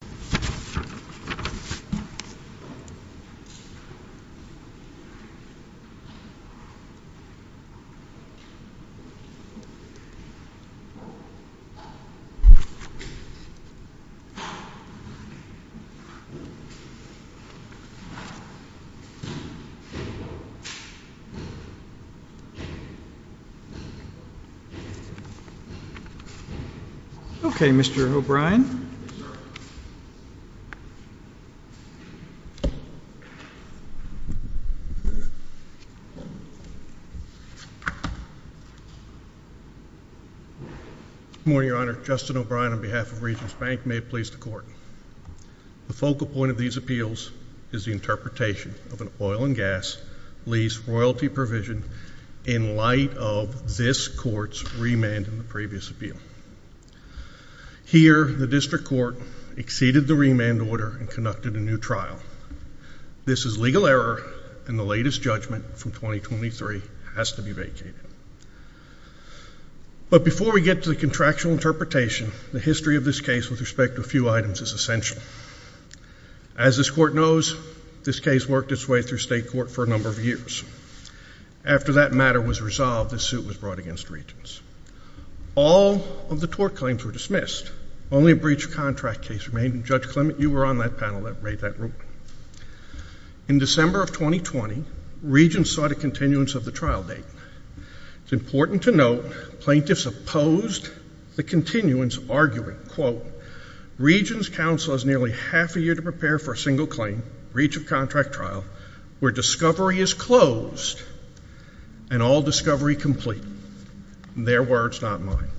Just give me a minute. Good morning, Your Honor. Justin O'Brien on behalf of Regents Bank, may it please the Court. The focal point of these appeals is the interpretation of an oil and gas lease royalty provision in light of this Court's remand in the previous appeal. Here, the District Court exceeded the remand order and conducted a new trial. This is legal error, and the latest judgment from 2023 has to be vacated. But before we get to the contractual interpretation, the history of this case with respect to a few items is essential. As this Court knows, this case worked its way through state court for a number of years. After that matter was resolved, this suit was brought against Regents. All of the tort claims were dismissed. Only a breach of contract case remained, and Judge Clement, you were on that panel that raided that room. In December of 2020, Regents sought a continuance of the trial date. It's important to note, plaintiffs opposed the continuance, arguing, quote, Regents counsel has nearly half a year to prepare for a single claim, breach of contract trial, where discovery is closed and all discovery complete. Their words, not mine.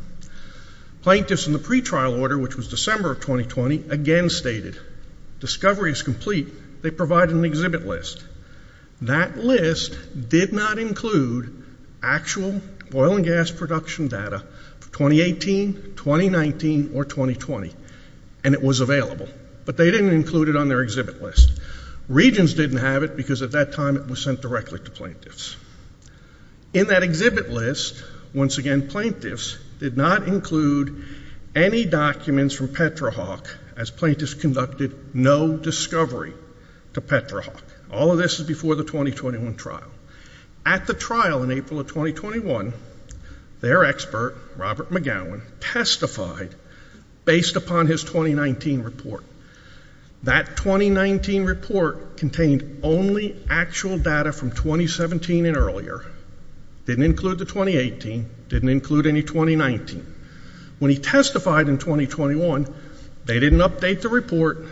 Plaintiffs in the pretrial order, which was December of 2020, again stated, discovery is complete. They provided an exhibit list. That list did not include actual oil and gas production data for 2018, 2019, or 2020. And it was available. But they didn't include it on their exhibit list. Regents didn't have it because at that time it was sent directly to plaintiffs. In that exhibit list, once again, plaintiffs did not include any documents from Petrahawk as plaintiffs conducted no discovery to Petrahawk. All of this is before the 2021 trial. At the trial in April of 2021, their expert, Robert McGowan, testified based upon his 2019 report. That 2019 report contained only actual data from 2017 and earlier. Didn't include the 2018, didn't include any 2019. When he testified in 2021, they didn't update the report,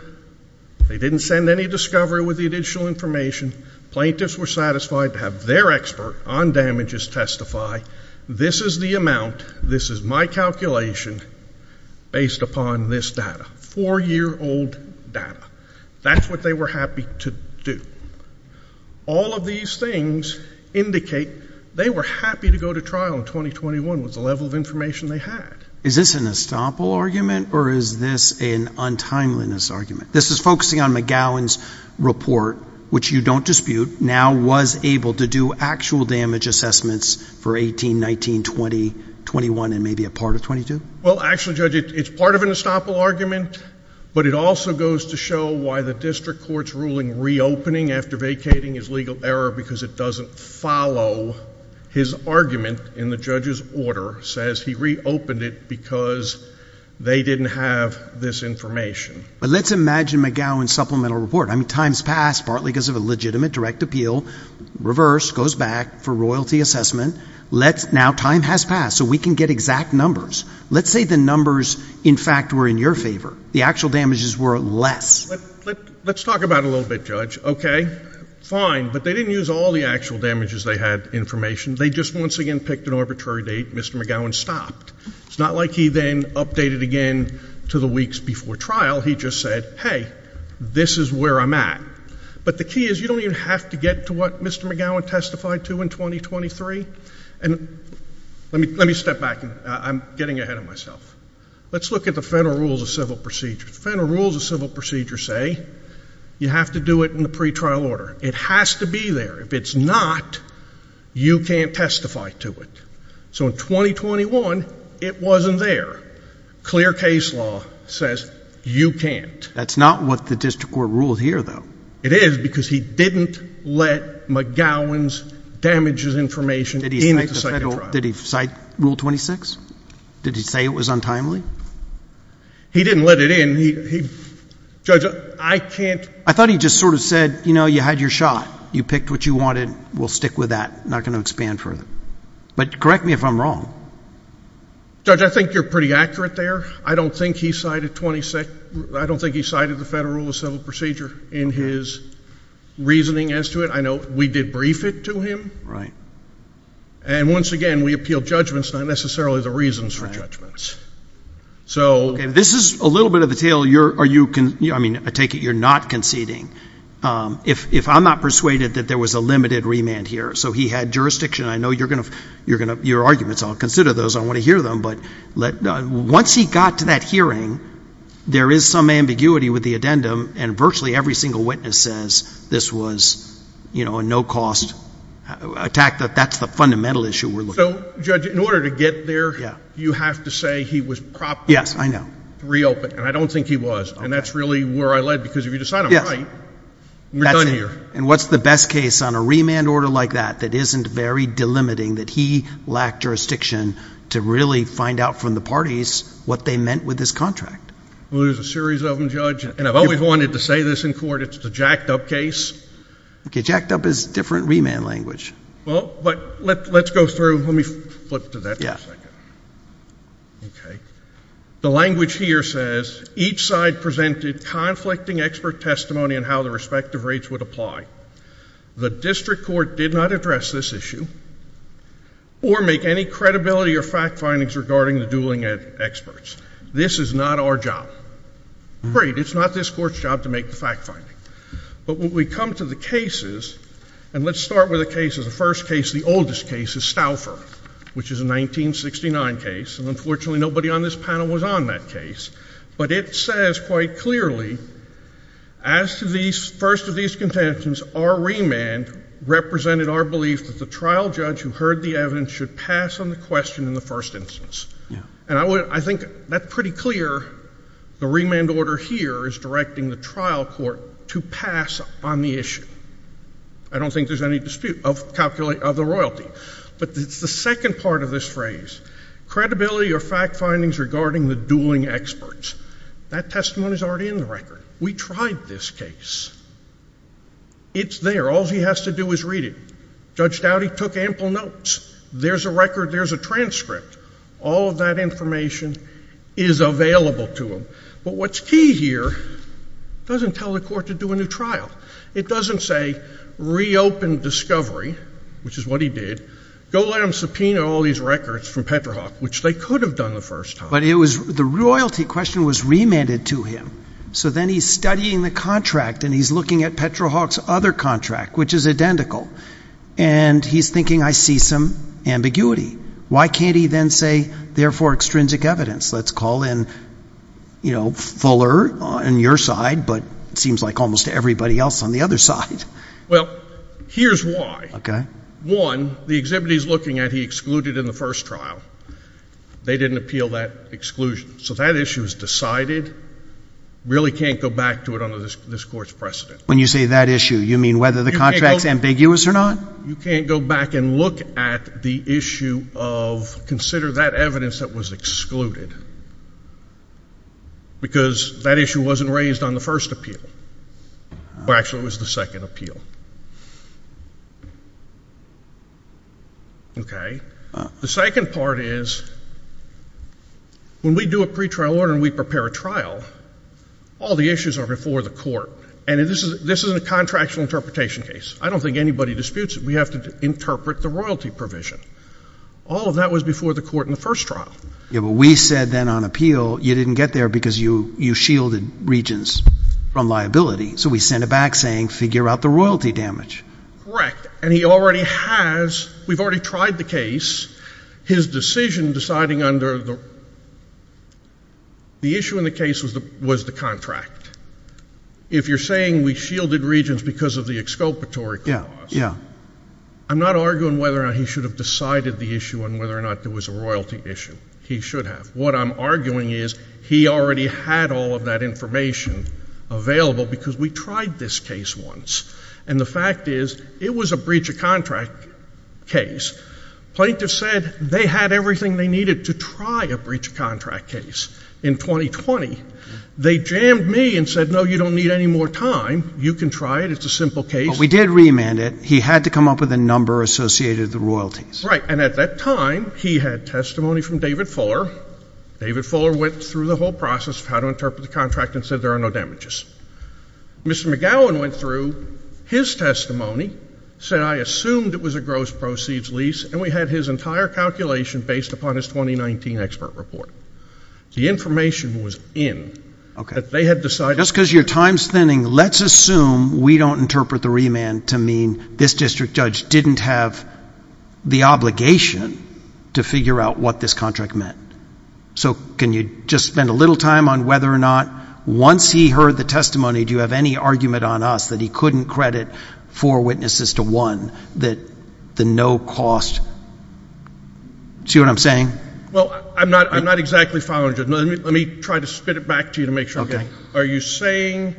they didn't send any discovery with the additional information. Plaintiffs were satisfied to have their expert on damages testify, this is the amount, this is my calculation based upon this data, four-year-old data. That's what they were happy to do. All of these things indicate they were happy to go to trial in 2021 with the level of information they had. Is this an estoppel argument or is this an untimeliness argument? This is focusing on McGowan's report, which you don't dispute, now was able to do actual damage assessments for 18, 19, 20, 21, and maybe a part of 22? Well, actually, Judge, it's part of an estoppel argument, but it also goes to show why the district court's ruling reopening after vacating is legal error because it doesn't follow. His argument in the judge's order says he reopened it because they didn't have this information. But let's imagine McGowan's supplemental report. I mean, time's passed, partly because of a legitimate direct appeal, reverse, goes back for royalty assessment, now time has passed, so we can get exact numbers. Let's say the numbers, in fact, were in your favor, the actual damages were less. Let's talk about it a little bit, Judge, okay, fine, but they didn't use all the actual damages they had information, they just once again picked an arbitrary date, Mr. McGowan stopped. It's not like he then updated again to the weeks before trial, he just said, hey, this is where I'm at. But the key is, you don't even have to get to what Mr. McGowan testified to in 2023. And let me step back, I'm getting ahead of myself. Let's look at the federal rules of civil procedure. The federal rules of civil procedure say you have to do it in the pretrial order. It has to be there. If it's not, you can't testify to it. So in 2021, it wasn't there. Clear case law says you can't. That's not what the district court ruled here, though. It is because he didn't let McGowan's damages information in at the second trial. Did he cite rule 26? Did he say it was untimely? He didn't let it in. He, Judge, I can't. I thought he just sort of said, you know, you had your shot. You picked what you wanted. We'll stick with that. Not going to expand further. But correct me if I'm wrong. Judge, I think you're pretty accurate there. I don't think he cited the federal rule of civil procedure in his reasoning as to it. I know we did brief it to him. And once again, we appealed judgments, not necessarily the reasons for judgments. So this is a little bit of a tale. Are you, I mean, I take it you're not conceding. If I'm not persuaded that there was a limited remand here. So he had jurisdiction. I know you're going to, your arguments, I'll consider those. I want to hear them. But once he got to that hearing, there is some ambiguity with the addendum. And virtually every single witness says this was, you know, a no-cost attack. That that's the fundamental issue we're looking at. So, Judge, in order to get there, you have to say he was properly reopened. And I don't think he was. And that's really where I led. Because if you decide I'm right, we're done here. And what's the best case on a remand order like that, that isn't very delimiting, that he lacked jurisdiction to really find out from the parties what they meant with this contract? Well, there's a series of them, Judge. And I've always wanted to say this in court. It's the jacked-up case. Okay. Jacked-up is different remand language. Well, but let's go through. Let me flip to that for a second. Okay. The language here says, each side presented conflicting expert testimony on how the respective rates would apply. The district court did not address this issue or make any credibility or fact findings regarding the dueling experts. This is not our job. Great. It's not this court's job to make the fact finding. But when we come to the cases, and let's start with the cases. The first case, the oldest case, is Stouffer, which is a 1969 case. And unfortunately, nobody on this panel was on that case. But it says quite clearly, as to the first of these contentions, our remand represented our belief that the trial judge who heard the evidence should pass on the question in the first instance. And I think that's pretty clear. The remand order here is directing the trial court to pass on the issue. I don't think there's any dispute of the royalty. But it's the second part of this phrase. Credibility or fact findings regarding the dueling experts. That testimony's already in the record. We tried this case. It's there. All he has to do is read it. Judge Dowdy took ample notes. There's a record, there's a transcript. All of that information is available to him. But what's key here, doesn't tell the court to do a new trial. It doesn't say, reopen discovery, which is what he did. Go let them subpoena all these records from Petrohawk, which they could have done the first time. But the royalty question was remanded to him. So then he's studying the contract and he's looking at Petrohawk's other contract, which is identical. And he's thinking, I see some ambiguity. Why can't he then say, therefore, extrinsic evidence? Let's call in Fuller on your side, but it seems like almost everybody else on the other side. Well, here's why. Okay. One, the exhibit he's looking at, he excluded in the first trial. They didn't appeal that exclusion. So that issue is decided. Really can't go back to it under this court's precedent. When you say that issue, you mean whether the contract's ambiguous or not? You can't go back and look at the issue of, consider that evidence that was excluded. Because that issue wasn't raised on the first appeal. Well, actually, it was the second appeal. Okay. The second part is, when we do a pretrial order and we prepare a trial, all the issues are before the court. And this isn't a contractual interpretation case. I don't think anybody disputes it. We have to interpret the royalty provision. All of that was before the court in the first trial. Yeah, but we said then on appeal, you didn't get there because you shielded regents from liability. So we sent it back saying, figure out the royalty damage. Correct. And he already has, we've already tried the case. His decision deciding under the issue in the case was the contract. If you're saying we shielded regents because of the exculpatory clause. Yeah, yeah. I'm not arguing whether or not he should have decided the issue on whether or not there was a royalty issue. He should have. What I'm arguing is, he already had all of that information available because we tried this case once. And the fact is, it was a breach of contract case. Plaintiff said they had everything they needed to try a breach of contract case in 2020. They jammed me and said, no, you don't need any more time. You can try it. It's a simple case. But we did remand it. He had to come up with a number associated with the royalties. Right, and at that time, he had testimony from David Fuller. David Fuller went through the whole process of how to interpret the contract and said there are no damages. Mr. McGowan went through his testimony, said I assumed it was a gross proceeds lease, and we had his entire calculation based upon his 2019 expert report. The information was in that they had decided- Because your time's thinning, let's assume we don't interpret the remand to mean this district judge didn't have the obligation to figure out what this contract meant. So can you just spend a little time on whether or not, once he heard the testimony, do you have any argument on us that he couldn't credit four witnesses to one, that the no cost? See what I'm saying? Well, I'm not exactly following you. Let me try to spit it back to you to make sure I get it. Are you saying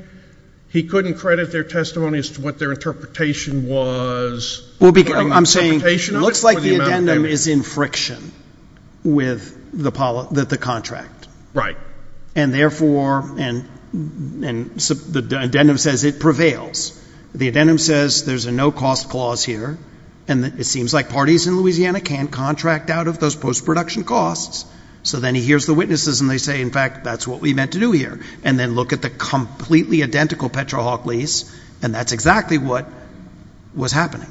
he couldn't credit their testimony as to what their interpretation was? Well, I'm saying it looks like the addendum is in friction with the contract. Right. And therefore, and the addendum says it prevails. The addendum says there's a no cost clause here, and it seems like parties in Louisiana can't contract out of those post-production costs. So then he hears the witnesses and they say, in fact, that's what we meant to do here. And then look at the completely identical PetroHawk lease, and that's exactly what was happening.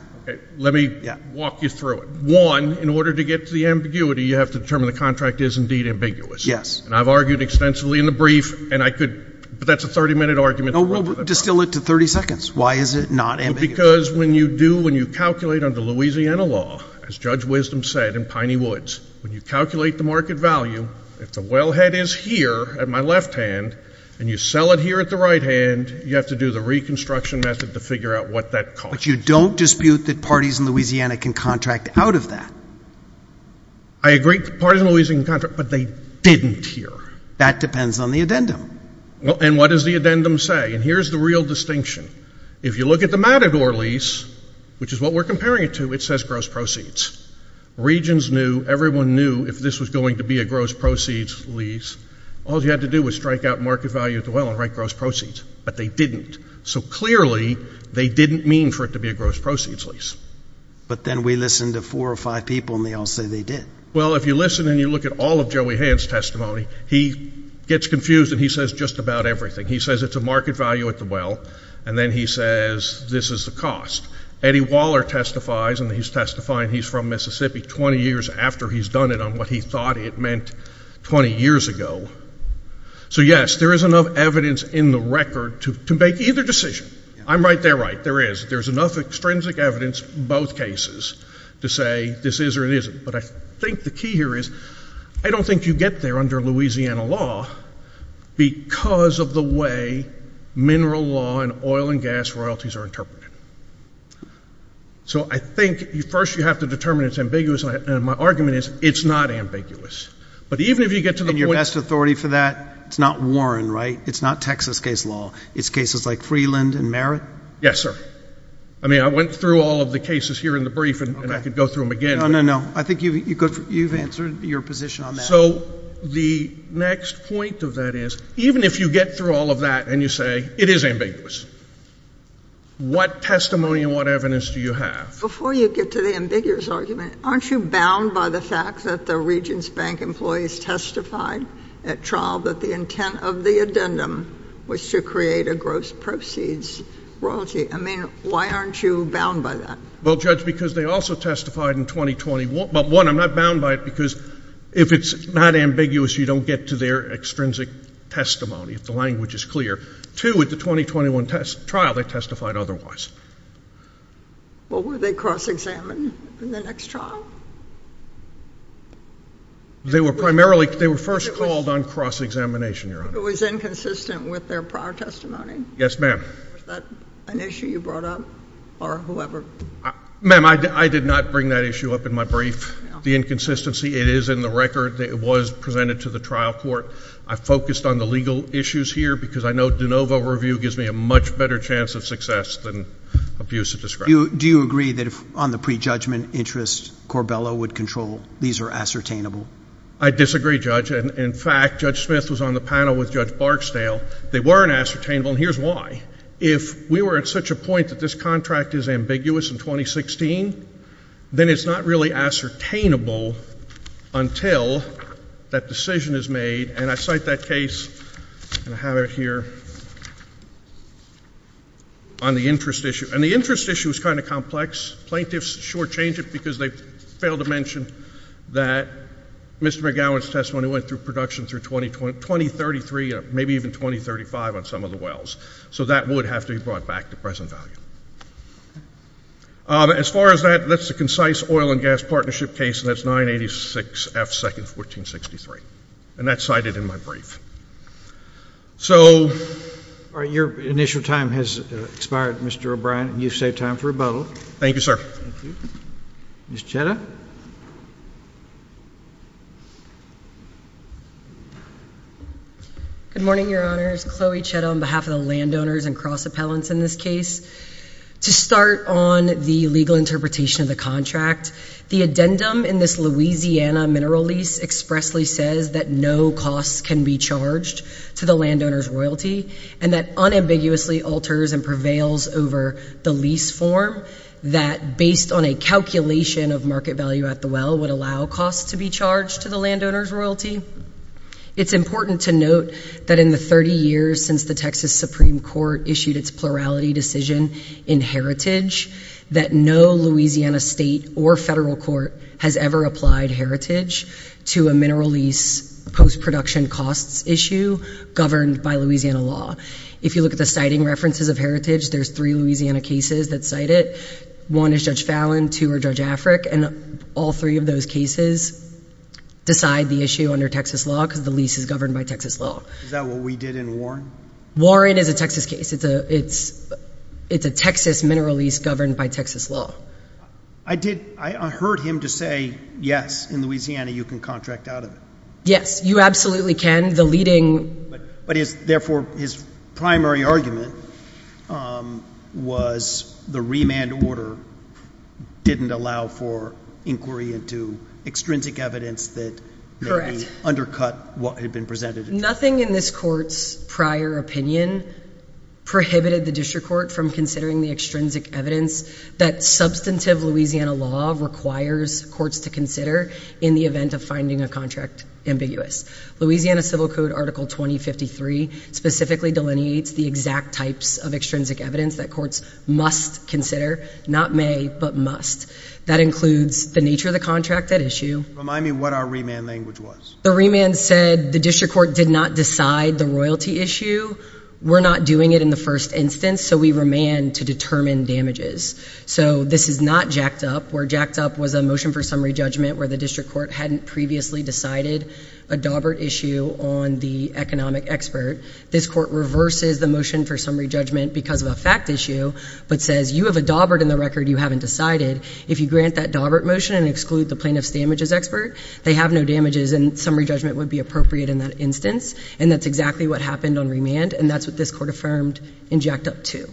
Let me walk you through it. One, in order to get to the ambiguity, you have to determine the contract is indeed ambiguous. Yes. And I've argued extensively in the brief, and I could, but that's a 30 minute argument. No, we'll distill it to 30 seconds. Why is it not ambiguous? Because when you do, when you calculate under Louisiana law, as Judge Wisdom said in Piney Woods, when you calculate the market value, if the wellhead is here at my left hand, and you sell it here at the right hand, you have to do the reconstruction method to figure out what that costs. But you don't dispute that parties in Louisiana can contract out of that. I agree that parties in Louisiana can contract, but they didn't here. That depends on the addendum. Well, and what does the addendum say? And here's the real distinction. If you look at the Matador lease, which is what we're comparing it to, it says gross proceeds. Regions knew, everyone knew if this was going to be a gross proceeds lease, all you had to do was strike out market value at the well and write gross proceeds, but they didn't. So clearly, they didn't mean for it to be a gross proceeds lease. But then we listened to four or five people, and they all say they did. Well, if you listen and you look at all of Joey Hand's testimony, he gets confused and he says just about everything. He says it's a market value at the well, and then he says this is the cost. Eddie Waller testifies, and he's testifying he's from Mississippi 20 years after he's done it on what he thought it meant 20 years ago. So yes, there is enough evidence in the record to make either decision. I'm right, they're right, there is. There's enough extrinsic evidence in both cases to say this is or it isn't. But I think the key here is, I don't think you get there under Louisiana law because of the way mineral law and oil and gas royalties are interpreted. So I think first you have to determine it's ambiguous, and my argument is it's not ambiguous. But even if you get to the point- And your best authority for that, it's not Warren, right? It's not Texas case law. It's cases like Freeland and Merritt? Yes, sir. I mean, I went through all of the cases here in the brief, and I could go through them again. No, no, no. I think you've answered your position on that. So the next point of that is, even if you get through all of that and you say, it is ambiguous, what testimony and what evidence do you have? Before you get to the ambiguous argument, aren't you bound by the fact that the Regents Bank employees testified at trial that the intent of the addendum was to create a gross proceeds royalty? I mean, why aren't you bound by that? Well, Judge, because they also testified in 2021. But one, I'm not bound by it, because if it's not ambiguous, you don't get to their extrinsic testimony, if the language is clear. Two, at the 2021 trial, they testified otherwise. Well, were they cross-examined in the next trial? They were primarily, they were first called on cross-examination, Your Honor. It was inconsistent with their prior testimony? Yes, ma'am. Was that an issue you brought up, or whoever? Ma'am, I did not bring that issue up in my brief. The inconsistency, it is in the record that it was presented to the trial court. I focused on the legal issues here, because I know de novo review gives me a much better chance of success than abuse of discretion. Do you agree that on the pre-judgment interest, Corbello would control, these are ascertainable? I disagree, Judge. And in fact, Judge Smith was on the panel with Judge Barksdale. They weren't ascertainable, and here's why. If we were at such a point that this contract is ambiguous in 2016, then it's not really ascertainable until that decision is made. And I cite that case, and I have it here, on the interest issue. And the interest issue is kind of complex. Plaintiffs shortchange it because they failed to mention that Mr. McGowan's testimony went through production through 2033, maybe even 2035 on some of the wells. So that would have to be brought back to present value. As far as that, that's a concise oil and gas partnership case, and that's 986 F 2nd, 1463. And that's cited in my brief. So- All right, your initial time has expired, Mr. O'Brien, and you've saved time for a vote. Thank you, sir. Thank you, Ms. Chetta? Good morning, your honors. Chloe Chetta on behalf of the landowners and cross appellants in this case. To start on the legal interpretation of the contract, the addendum in this Louisiana mineral lease expressly says that no costs can be charged to the landowner's royalty, and that unambiguously alters and prevails over the lease form that, based on a calculation of market value at the well, would allow costs to be charged to the landowner's royalty. It's important to note that in the 30 years since the Texas Supreme Court issued its plurality decision in heritage, that no Louisiana state or federal court has ever applied heritage to a mineral lease post-production costs issue governed by Louisiana law. If you look at the citing references of heritage, there's three Louisiana cases that cite it. One is Judge Fallon, two are Judge Afric, and all three of those cases decide the issue under Texas law because the lease is governed by Texas law. Is that what we did in Warren? Warren is a Texas case. It's a Texas mineral lease governed by Texas law. I heard him to say, yes, in Louisiana you can contract out of it. Yes, you absolutely can. But therefore, his primary argument was the remand order didn't allow for inquiry into extrinsic evidence that may undercut what had been presented. Nothing in this court's prior opinion prohibited the district court from considering the extrinsic evidence that substantive Louisiana law requires courts to consider in the event of finding a contract ambiguous. Louisiana Civil Code Article 2053 specifically delineates the exact types of extrinsic evidence that courts must consider, not may, but must. That includes the nature of the contract at issue. Remind me what our remand language was. The remand said the district court did not decide the royalty issue. We're not doing it in the first instance, so we remand to determine damages. So this is not jacked up. Where jacked up was a motion for summary judgment where the district court hadn't previously decided a daubert issue on the economic expert. This court reverses the motion for summary judgment because of a fact issue, but says, you have a daubert in the record you haven't decided. If you grant that daubert motion and exclude the plaintiff's damages expert, they have no damages and summary judgment would be appropriate in that instance. And that's exactly what happened on remand, and that's what this court affirmed and jacked up to.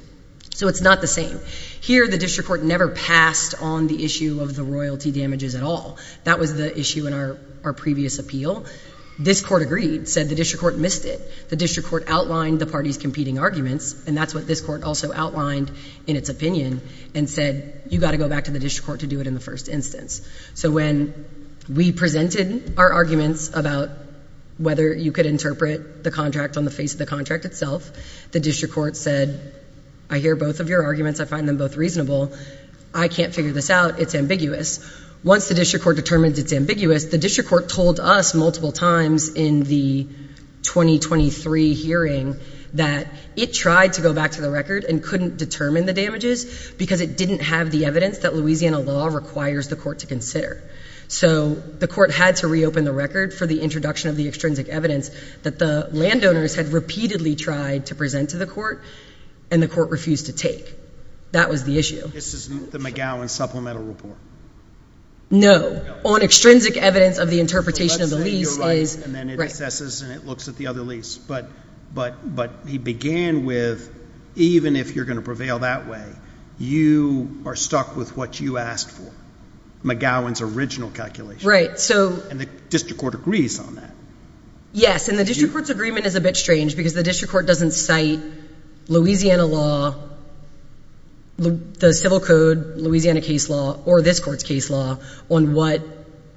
So it's not the same. Here, the district court never passed on the issue of the royalty damages at all. That was the issue in our previous appeal. This court agreed, said the district court missed it. The district court outlined the party's competing arguments, and that's what this court also outlined in its opinion and said, you've got to go back to the district court to do it in the first instance. So when we presented our arguments about whether you could interpret the contract on the face of the contract itself, the district court said, I hear both of your arguments. I find them both reasonable. I can't figure this out. It's ambiguous. Once the district court determined it's ambiguous, the district court told us multiple times in the 2023 hearing that it tried to go back to the record and couldn't determine the damages because it didn't have the evidence that Louisiana law requires the court to consider. So the court had to reopen the record for the introduction of the extrinsic evidence that the landowners had repeatedly tried to present to the court, and the court refused to take. That was the issue. This isn't the McGowan supplemental report. No. On extrinsic evidence of the interpretation of the lease is. So that's what you're right, and then it assesses, and it looks at the other lease. But he began with, even if you're going to prevail that way, you are stuck with what you asked for, McGowan's original calculation. Right. So. And the district court agrees on that. Yes, and the district court's agreement is a bit strange because the district court doesn't cite Louisiana law, the civil code, Louisiana case law, or this court's case law on what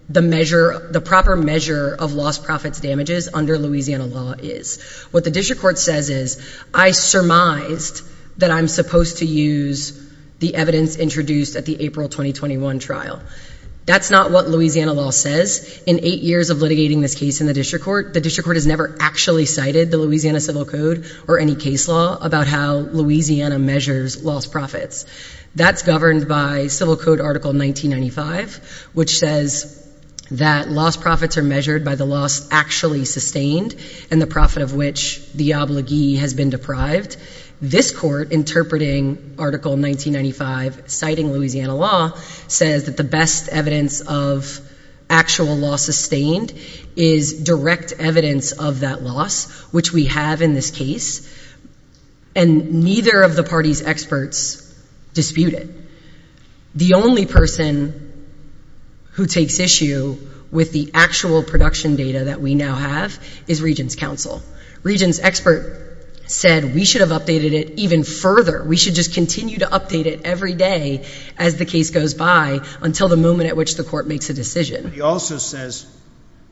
the measure, the proper measure of lost profits damages under Louisiana law is. What the district court says is, I surmised that I'm supposed to use the evidence introduced at the April 2021 trial. That's not what Louisiana law says. In eight years of litigating this case in the district court, the district court has never actually cited the Louisiana civil code or any case law about how Louisiana measures lost profits. That's governed by civil code article 1995, which says that lost profits are measured by the loss actually sustained and the profit of which the obligee has been deprived. This court interpreting article 1995, citing Louisiana law, says that the best evidence of actual loss sustained is direct evidence of that loss, which we have in this case, and neither of the party's experts dispute it. The only person who takes issue with the actual production data that we now have is Regents' counsel. Regents' expert said we should have updated it even further. We should just continue to update it every day as the case goes by until the moment at which the court makes a decision. He also says,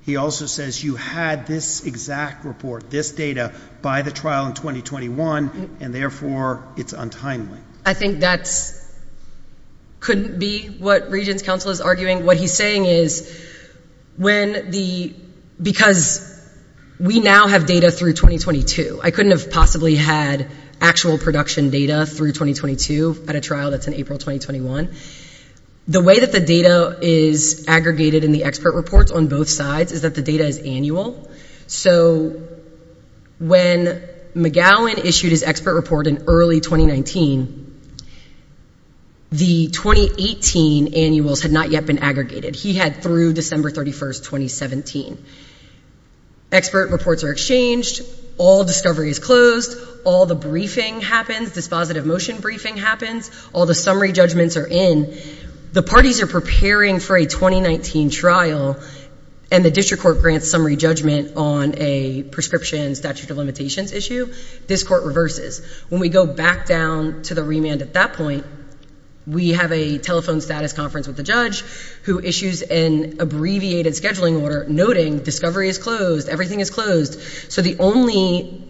he also says you had this exact report, this data by the trial in 2021, and therefore it's untimely. I think that's, couldn't be what Regents' counsel is arguing. What he's saying is when the, because we now have data through 2022. I couldn't have possibly had actual production data through 2022 at a trial that's in April 2021. The way that the data is aggregated in the expert reports on both sides is that the data is annual. So when McGowan issued his expert report in early 2019, the 2018 annuals had not yet been aggregated. He had through December 31st, 2017. Expert reports are exchanged. All discovery is closed. All the briefing happens. Dispositive motion briefing happens. All the summary judgments are in. The parties are preparing for a 2019 trial and the district court grants summary judgment on a prescription statute of limitations issue. This court reverses. When we go back down to the remand at that point, we have a telephone status conference with the judge who issues an abbreviated scheduling order noting discovery is closed. Everything is closed. So the only,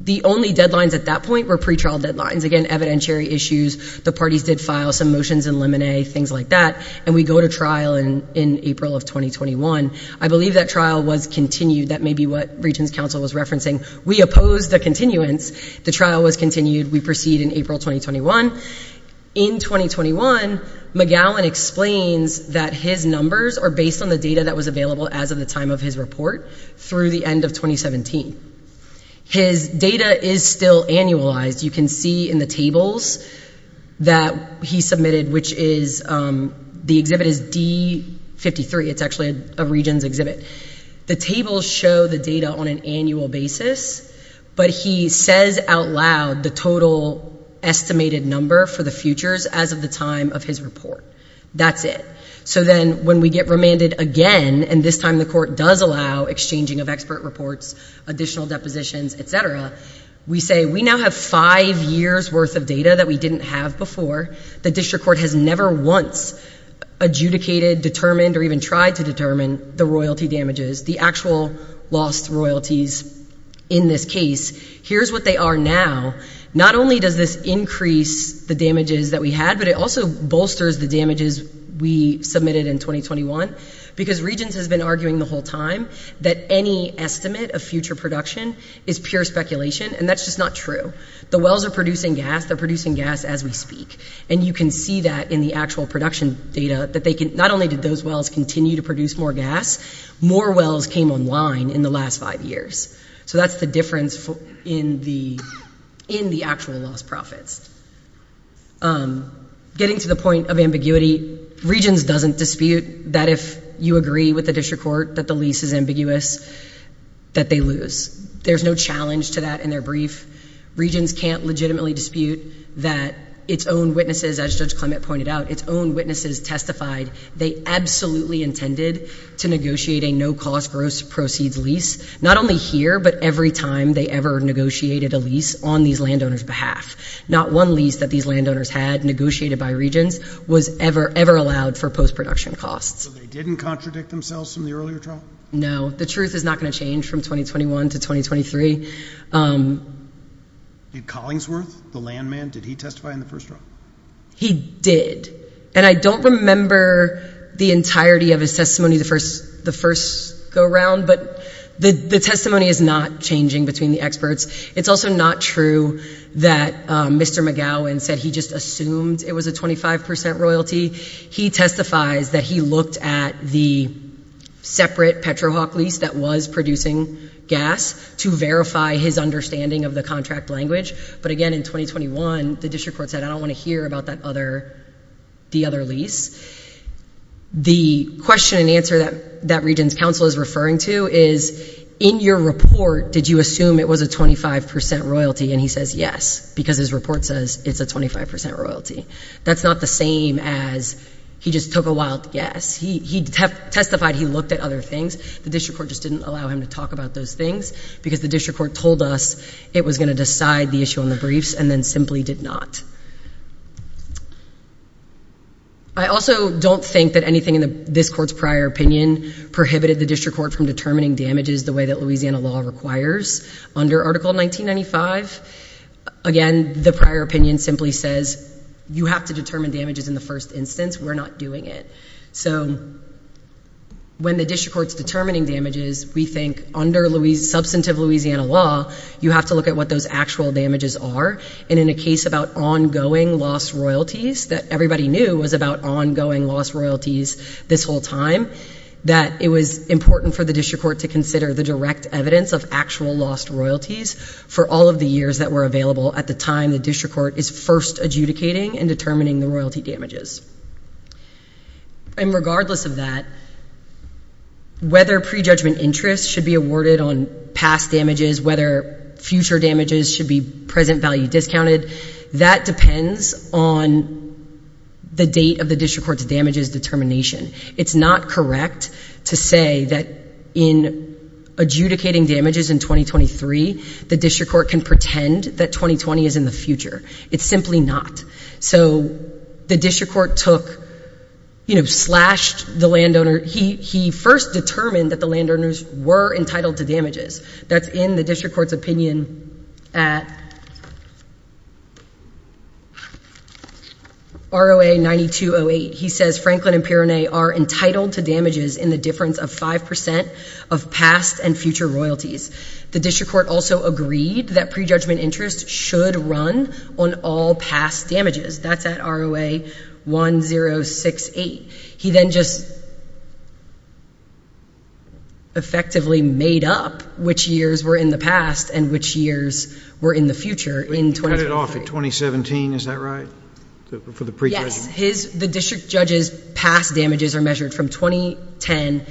the only deadlines at that point were pretrial deadlines. Again, evidentiary issues. The parties did file some motions in limine, things like that. And we go to trial in April of 2021. I believe that trial was continued. That may be what region's council was referencing. We oppose the continuance. The trial was continued. We proceed in April 2021. In 2021, McGowan explains that his numbers are based on the data that was available as of the time of his report through the end of 2017. His data is still annualized. You can see in the tables that he submitted, which is, the exhibit is D53. It's actually a region's exhibit. The tables show the data on an annual basis. But he says out loud the total estimated number for the futures as of the time of his report. That's it. So then when we get remanded again, and this time the court does allow exchanging of expert reports, additional depositions, et cetera, we say we now have five years' worth of data that we didn't have before. The district court has never once adjudicated, determined, or even tried to determine the royalty damages, the actual lost royalties in this case. Here's what they are now. Not only does this increase the damages that we had, but it also bolsters the damages we submitted in 2021. Because Regence has been arguing the whole time that any estimate of future production is pure speculation. And that's just not true. The wells are producing gas. They're producing gas as we speak. And you can see that in the actual production data, that not only did those wells continue to produce more gas, more wells came online in the last five years. So that's the difference in the actual lost profits. Getting to the point of ambiguity, Regence doesn't dispute that if you agree with the district court that the lease is ambiguous, that they lose. There's no challenge to that in their brief. Regence can't legitimately dispute that its own witnesses, as Judge Clement pointed out, its own witnesses testified they absolutely intended to negotiate a no-cost gross proceeds lease. Not only here, but every time they ever negotiated a lease on these landowners' behalf. Not one lease that these landowners had negotiated by Regence was ever, ever allowed for post-production costs. So they didn't contradict themselves from the earlier trial? No. The truth is not going to change from 2021 to 2023. Did Collingsworth, the land man, did he testify in the first trial? He did. And I don't remember the entirety of his testimony the first go-round, but the testimony is not changing between the experts. It's also not true that Mr. McGowan said he just assumed it was a 25% royalty. He testifies that he looked at the separate PetroHawk lease that was producing gas to verify his understanding of the contract language. But again, in 2021, the district court said, I don't want to hear about the other lease. The question and answer that Regence counsel is referring to is, in your report, did you assume it was a 25% royalty? And he says, yes, because his report says it's a 25% royalty. That's not the same as he just took a wild guess. He testified he looked at other things. The district court just didn't allow him to talk about those things because the district court told us it was going to decide the issue on the briefs and then simply did not. I also don't think that anything in this court's prior opinion prohibited the district court from determining damages the way that Louisiana law requires. Under Article 1995, again, the prior opinion simply says, you have to determine damages in the first instance. We're not doing it. So when the district court's determining damages, we think under substantive Louisiana law, you have to look at what those actual damages are. And in a case about ongoing lost royalties that everybody knew was about ongoing lost royalties this whole time, that it was important for the district court to consider the direct evidence of actual lost royalties for all of the years that were available at the time the district court is first adjudicating and determining the royalty damages. And regardless of that, whether prejudgment interest should be awarded on past damages, whether future damages should be present value discounted, that depends on the date of the district court's damages determination. It's not correct to say that in adjudicating damages in 2023, the district court can pretend that 2020 is in the future. It's simply not. So the district court took, you know, slashed the landowner. He first determined that the landowners were entitled to damages. That's in the district court's opinion at ROA 9208. He says, Franklin and Pirone are entitled to damages in the difference of 5% of past and future royalties. The district court also agreed that prejudgment interest should run on all past damages. That's at ROA 1068. He then just effectively made up which years were in the past and which years were in the future in 2023. You cut it off at 2017, is that right, for the prejudgment? Yes. The district judge's past damages are measured from 2010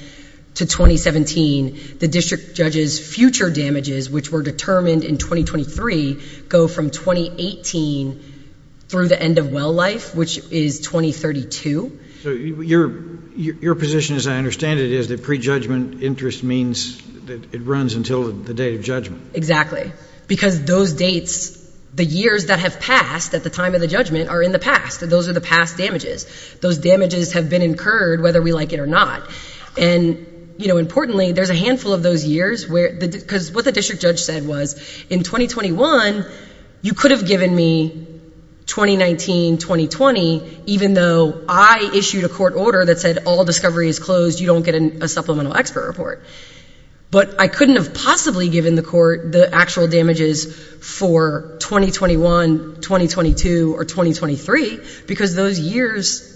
to 2017. The district judge's future damages, which were determined in 2023, go from 2018 through the end of well life, which is 2032. So your position, as I understand it, is that prejudgment interest means that it runs until the date of judgment. Exactly. Because those dates, the years that have passed at the time of the judgment, are in the past. Those are the past damages. Those damages have been incurred whether we like it or not. And, you know, importantly, there's a handful of those years, because what the district judge said was, in 2021, you could have given me 2019, 2020, even though I issued a court order that said all discovery is closed, you don't get a supplemental expert report. But I couldn't have possibly given the court the actual damages for 2021, 2022, or 2023, because those years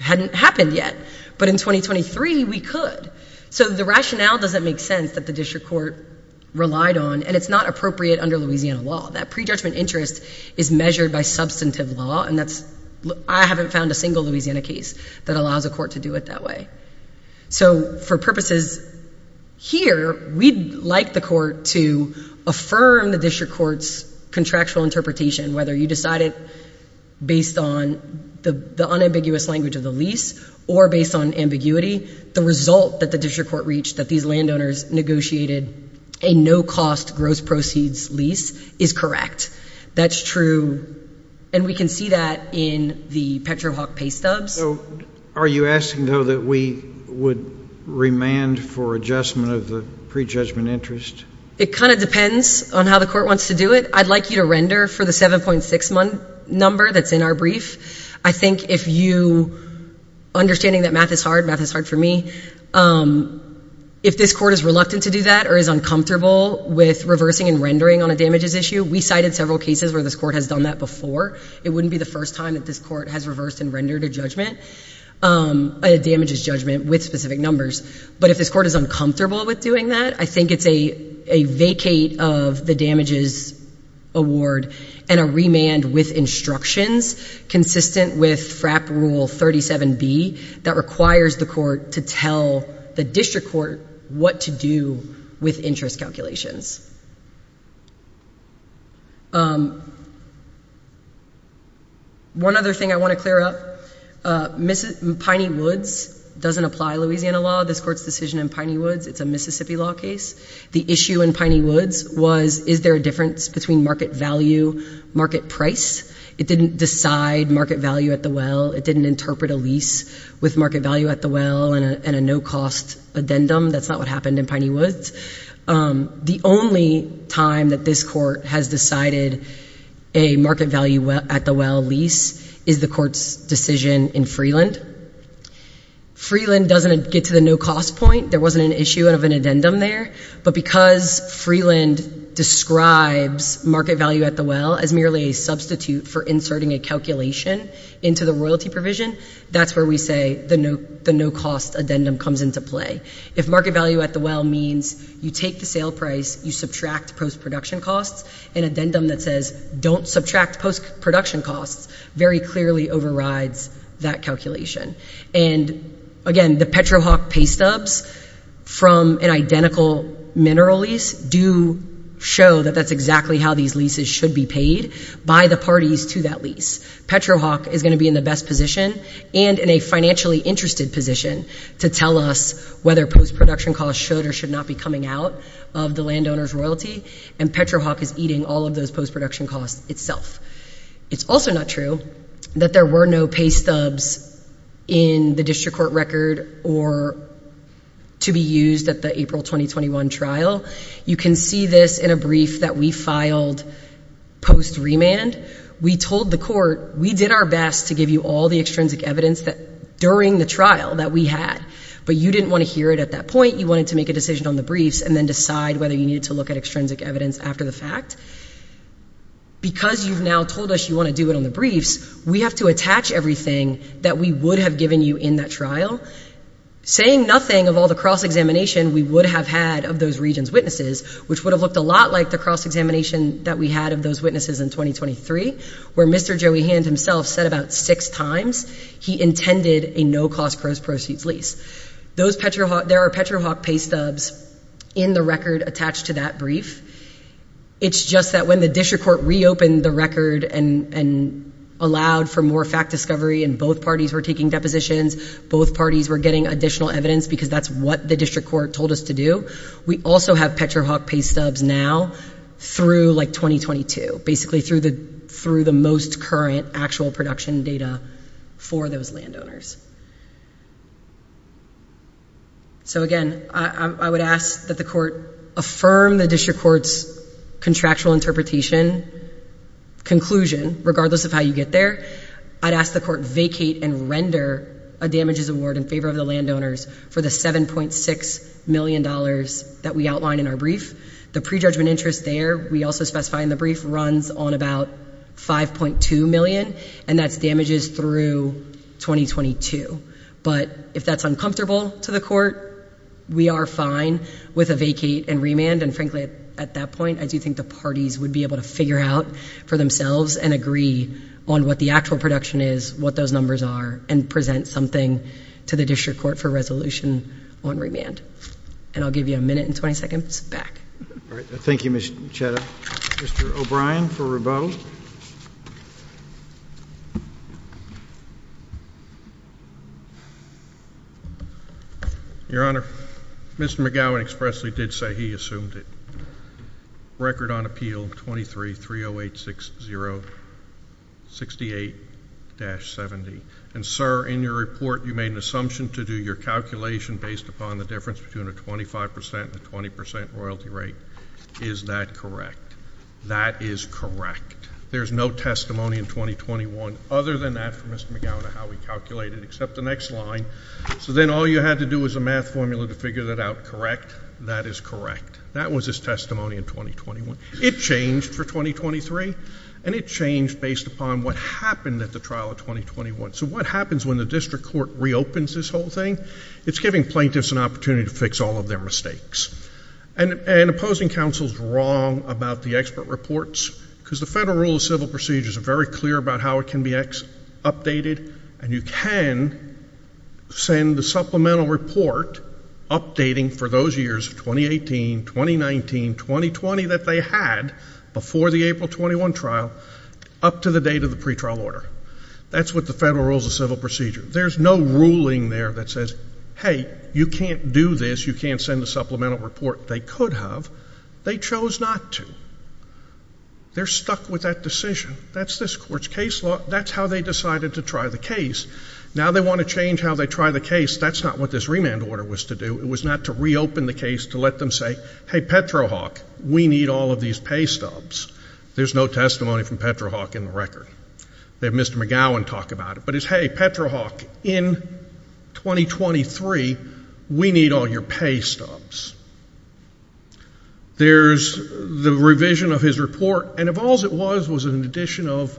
hadn't happened yet. But in 2023, we could. So the rationale doesn't make sense that the district court relied on, and it's not appropriate under Louisiana law. That prejudgment interest is measured by substantive law, and I haven't found a single Louisiana case that allows a court to do it that way. So for purposes here, we'd like the court to affirm the district court's contractual interpretation, whether you decide it based on the unambiguous language of the lease, or based on ambiguity, the result that the district court reached that these landowners negotiated a no-cost gross proceeds lease is correct. That's true. And we can see that in the PetroHawk pay stubs. So are you asking, though, that we would remand for adjustment of the prejudgment interest? It kind of depends on how the court wants to do it. I'd like you to render for the 7.6-month number that's in our brief. I think if you, understanding that math is hard, math is hard for me, if this court is reluctant to do that or is uncomfortable with reversing and rendering on a damages issue, we cited several cases where this court has done that before. It wouldn't be the first time that this court has reversed and rendered a judgment, a damages judgment, with specific numbers. But if this court is uncomfortable with doing that, I think it's a vacate of the damages award and a remand with instructions consistent with FRAP Rule 37B that requires the court to tell the district court what to do with interest calculations. One other thing I want to clear up, Piney Woods doesn't apply Louisiana law. This court's decision in Piney Woods, it's a Mississippi law case. The issue in Piney Woods was, is there a difference between market value, market price? It didn't decide market value at the well. It didn't interpret a lease with market value at the well and a no-cost addendum. That's not what happened in Piney Woods. The only time that this court has decided a market value at the well lease is the court's decision in Freeland. Freeland doesn't get to the no-cost point. There wasn't an issue of an addendum there. But because Freeland describes market value at the well as merely a substitute for inserting a calculation into the royalty provision, that's where we say the no-cost addendum comes into play. If market value at the well means you take the sale price, you subtract post-production costs, an addendum that says, don't subtract post-production costs, very clearly overrides that calculation. And again, the PetroHawk pay stubs from an identical mineral lease do show that that's exactly how these leases should be paid by the parties to that lease. PetroHawk is going to be in the best position and in a financially interested position to tell us whether post-production costs should or should not be coming out of the landowner's royalty. And PetroHawk is eating all of those post-production costs itself. It's also not true that there were no pay stubs in the district court record or to be used at the April 2021 trial. You can see this in a brief that we filed post-remand. We told the court, we did our best to give you all the extrinsic evidence that during the trial that we had, but you didn't want to hear it at that point. You wanted to make a decision on the briefs and then decide whether you needed to look at extrinsic evidence after the fact. Because you've now told us you want to do it on the briefs, we have to attach everything that we would have given you in that trial, saying nothing of all the cross-examination we would have had of those region's witnesses, which would have looked a lot like the cross-examination that we had of those witnesses in 2023, where Mr. Joey Hand himself said about six times he intended a no-cost gross proceeds lease. Those PetroHawk, there are PetroHawk pay stubs in the record attached to that brief. It's just that when the district court reopened the record and allowed for more fact discovery and both parties were taking depositions, both parties were getting additional evidence because that's what the district court told us to do. We also have PetroHawk pay stubs now through like 2022, basically through the most current actual production data for those landowners. So again, I would ask that the court affirm the district court's contractual interpretation, conclusion, regardless of how you get there. I'd ask the court vacate and render a damages award in favor of the landowners for the $7.6 million that we outlined in our brief. The prejudgment interest there, we also specify in the brief, runs on about $5.2 million, and that's damages through 2022. But if that's uncomfortable to the court, we are fine with a vacate and remand. And frankly, at that point, I do think the parties would be able to figure out for themselves and agree on what the actual production is, what those numbers are, and present something to the district court for resolution on remand. And I'll give you a minute and 20 seconds back. All right. Thank you, Ms. Chetta. Mr. O'Brien for Rabeau. Your Honor, Mr. McGowan expressly did say he assumed it. Record on appeal 23-30860-68-70. And sir, in your report, you made an assumption to do your calculation based upon the difference between a 25% and a 20% royalty rate. Is that correct? That is correct. There's no testimony in 2021 other than that from Mr. McGowan on how we calculated it, except the next line. So then all you had to do was a math formula to figure that out, correct? That is correct. That was his testimony in 2021. It changed for 2023, and it changed based upon what happened at the trial of 2021. So what happens when the district court reopens this whole thing? It's giving plaintiffs an opportunity to fix all of their mistakes. And opposing counsel's wrong about the expert reports, because the federal rule of civil procedures are very clear about how it can be updated, and you can send the supplemental report updating for those years of 2018, 2019, 2020 that they had before the April 21 trial up to the date of the pretrial order. That's what the federal rules of civil procedure. There's no ruling there that says, hey, you can't do this. You can't send a supplemental report. They could have. They chose not to. They're stuck with that decision. That's this court's case law. That's how they decided to try the case. Now they want to change how they try the case. That's not what this remand order was to do. It was not to reopen the case to let them say, hey, Petrohawk, we need all of these pay stubs. There's no testimony from Petrohawk in the record. They have Mr. McGowan talk about it. But it's, hey, Petrohawk, in 2023, we need all your pay stubs. There's the revision of his report. And if all's it was was an addition of,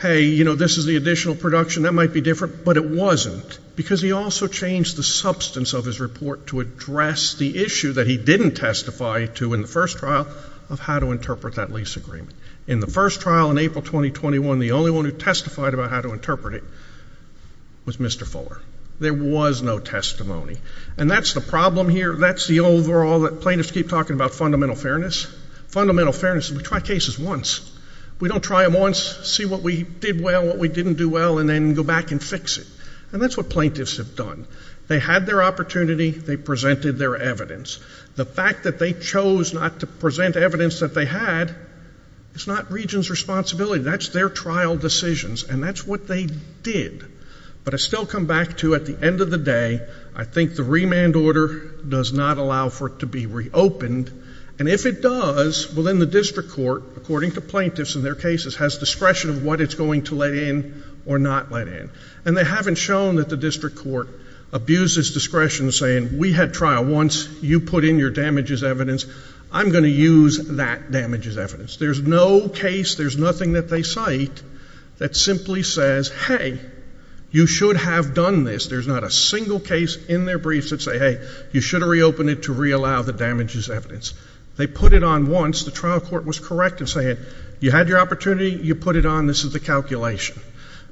hey, you know, this is the additional production. That might be different. But it wasn't, because he also changed the substance of his report to address the issue that he didn't testify to in the first trial of how to interpret that lease agreement. In the first trial in April 2021, the only one who testified about how to interpret it was Mr. Fuller. There was no testimony. And that's the problem here. That's the overall that plaintiffs keep talking about fundamental fairness. Fundamental fairness, we try cases once. We don't try them once, see what we did well, what we didn't do well, and then go back and fix it. And that's what plaintiffs have done. They had their opportunity. They presented their evidence. The fact that they chose not to present evidence that they had is not region's responsibility. That's their trial decisions. And that's what they did. But I still come back to, at the end of the day, I think the remand order does not allow for it to be reopened. And if it does, well, then the district court, according to plaintiffs and their cases, has discretion of what it's going to let in or not let in. And they haven't shown that the district court abuses discretion saying, we had trial once. You put in your damages evidence. I'm going to use that damages evidence. There's no case, there's nothing that they cite that simply says, hey, you should have done this. There's not a single case in their briefs that say, hey, you should have reopened it to re-allow the damages evidence. They put it on once. The trial court was correct in saying, you had your opportunity. You put it on. This is the calculation.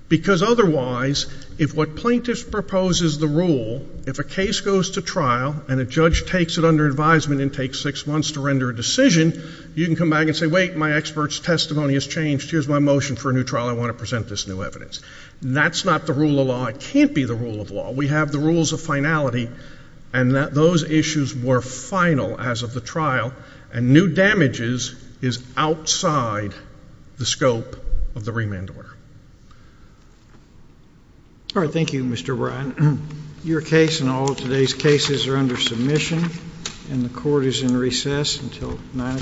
Because otherwise, if what plaintiffs propose is the rule, if a case goes to trial, and a judge takes it under advisement and takes six months to render a decision, you can come back and say, wait, my expert's testimony has changed. Here's my motion for a new trial. I want to present this new evidence. That's not the rule of law. It can't be the rule of law. We have the rules of finality. And those issues were final as of the trial. And new damages is outside the scope of the remand order. All right, thank you, Mr. Bryan. Your case and all of today's cases are under submission. And the court is in recess until 9 o'clock tomorrow.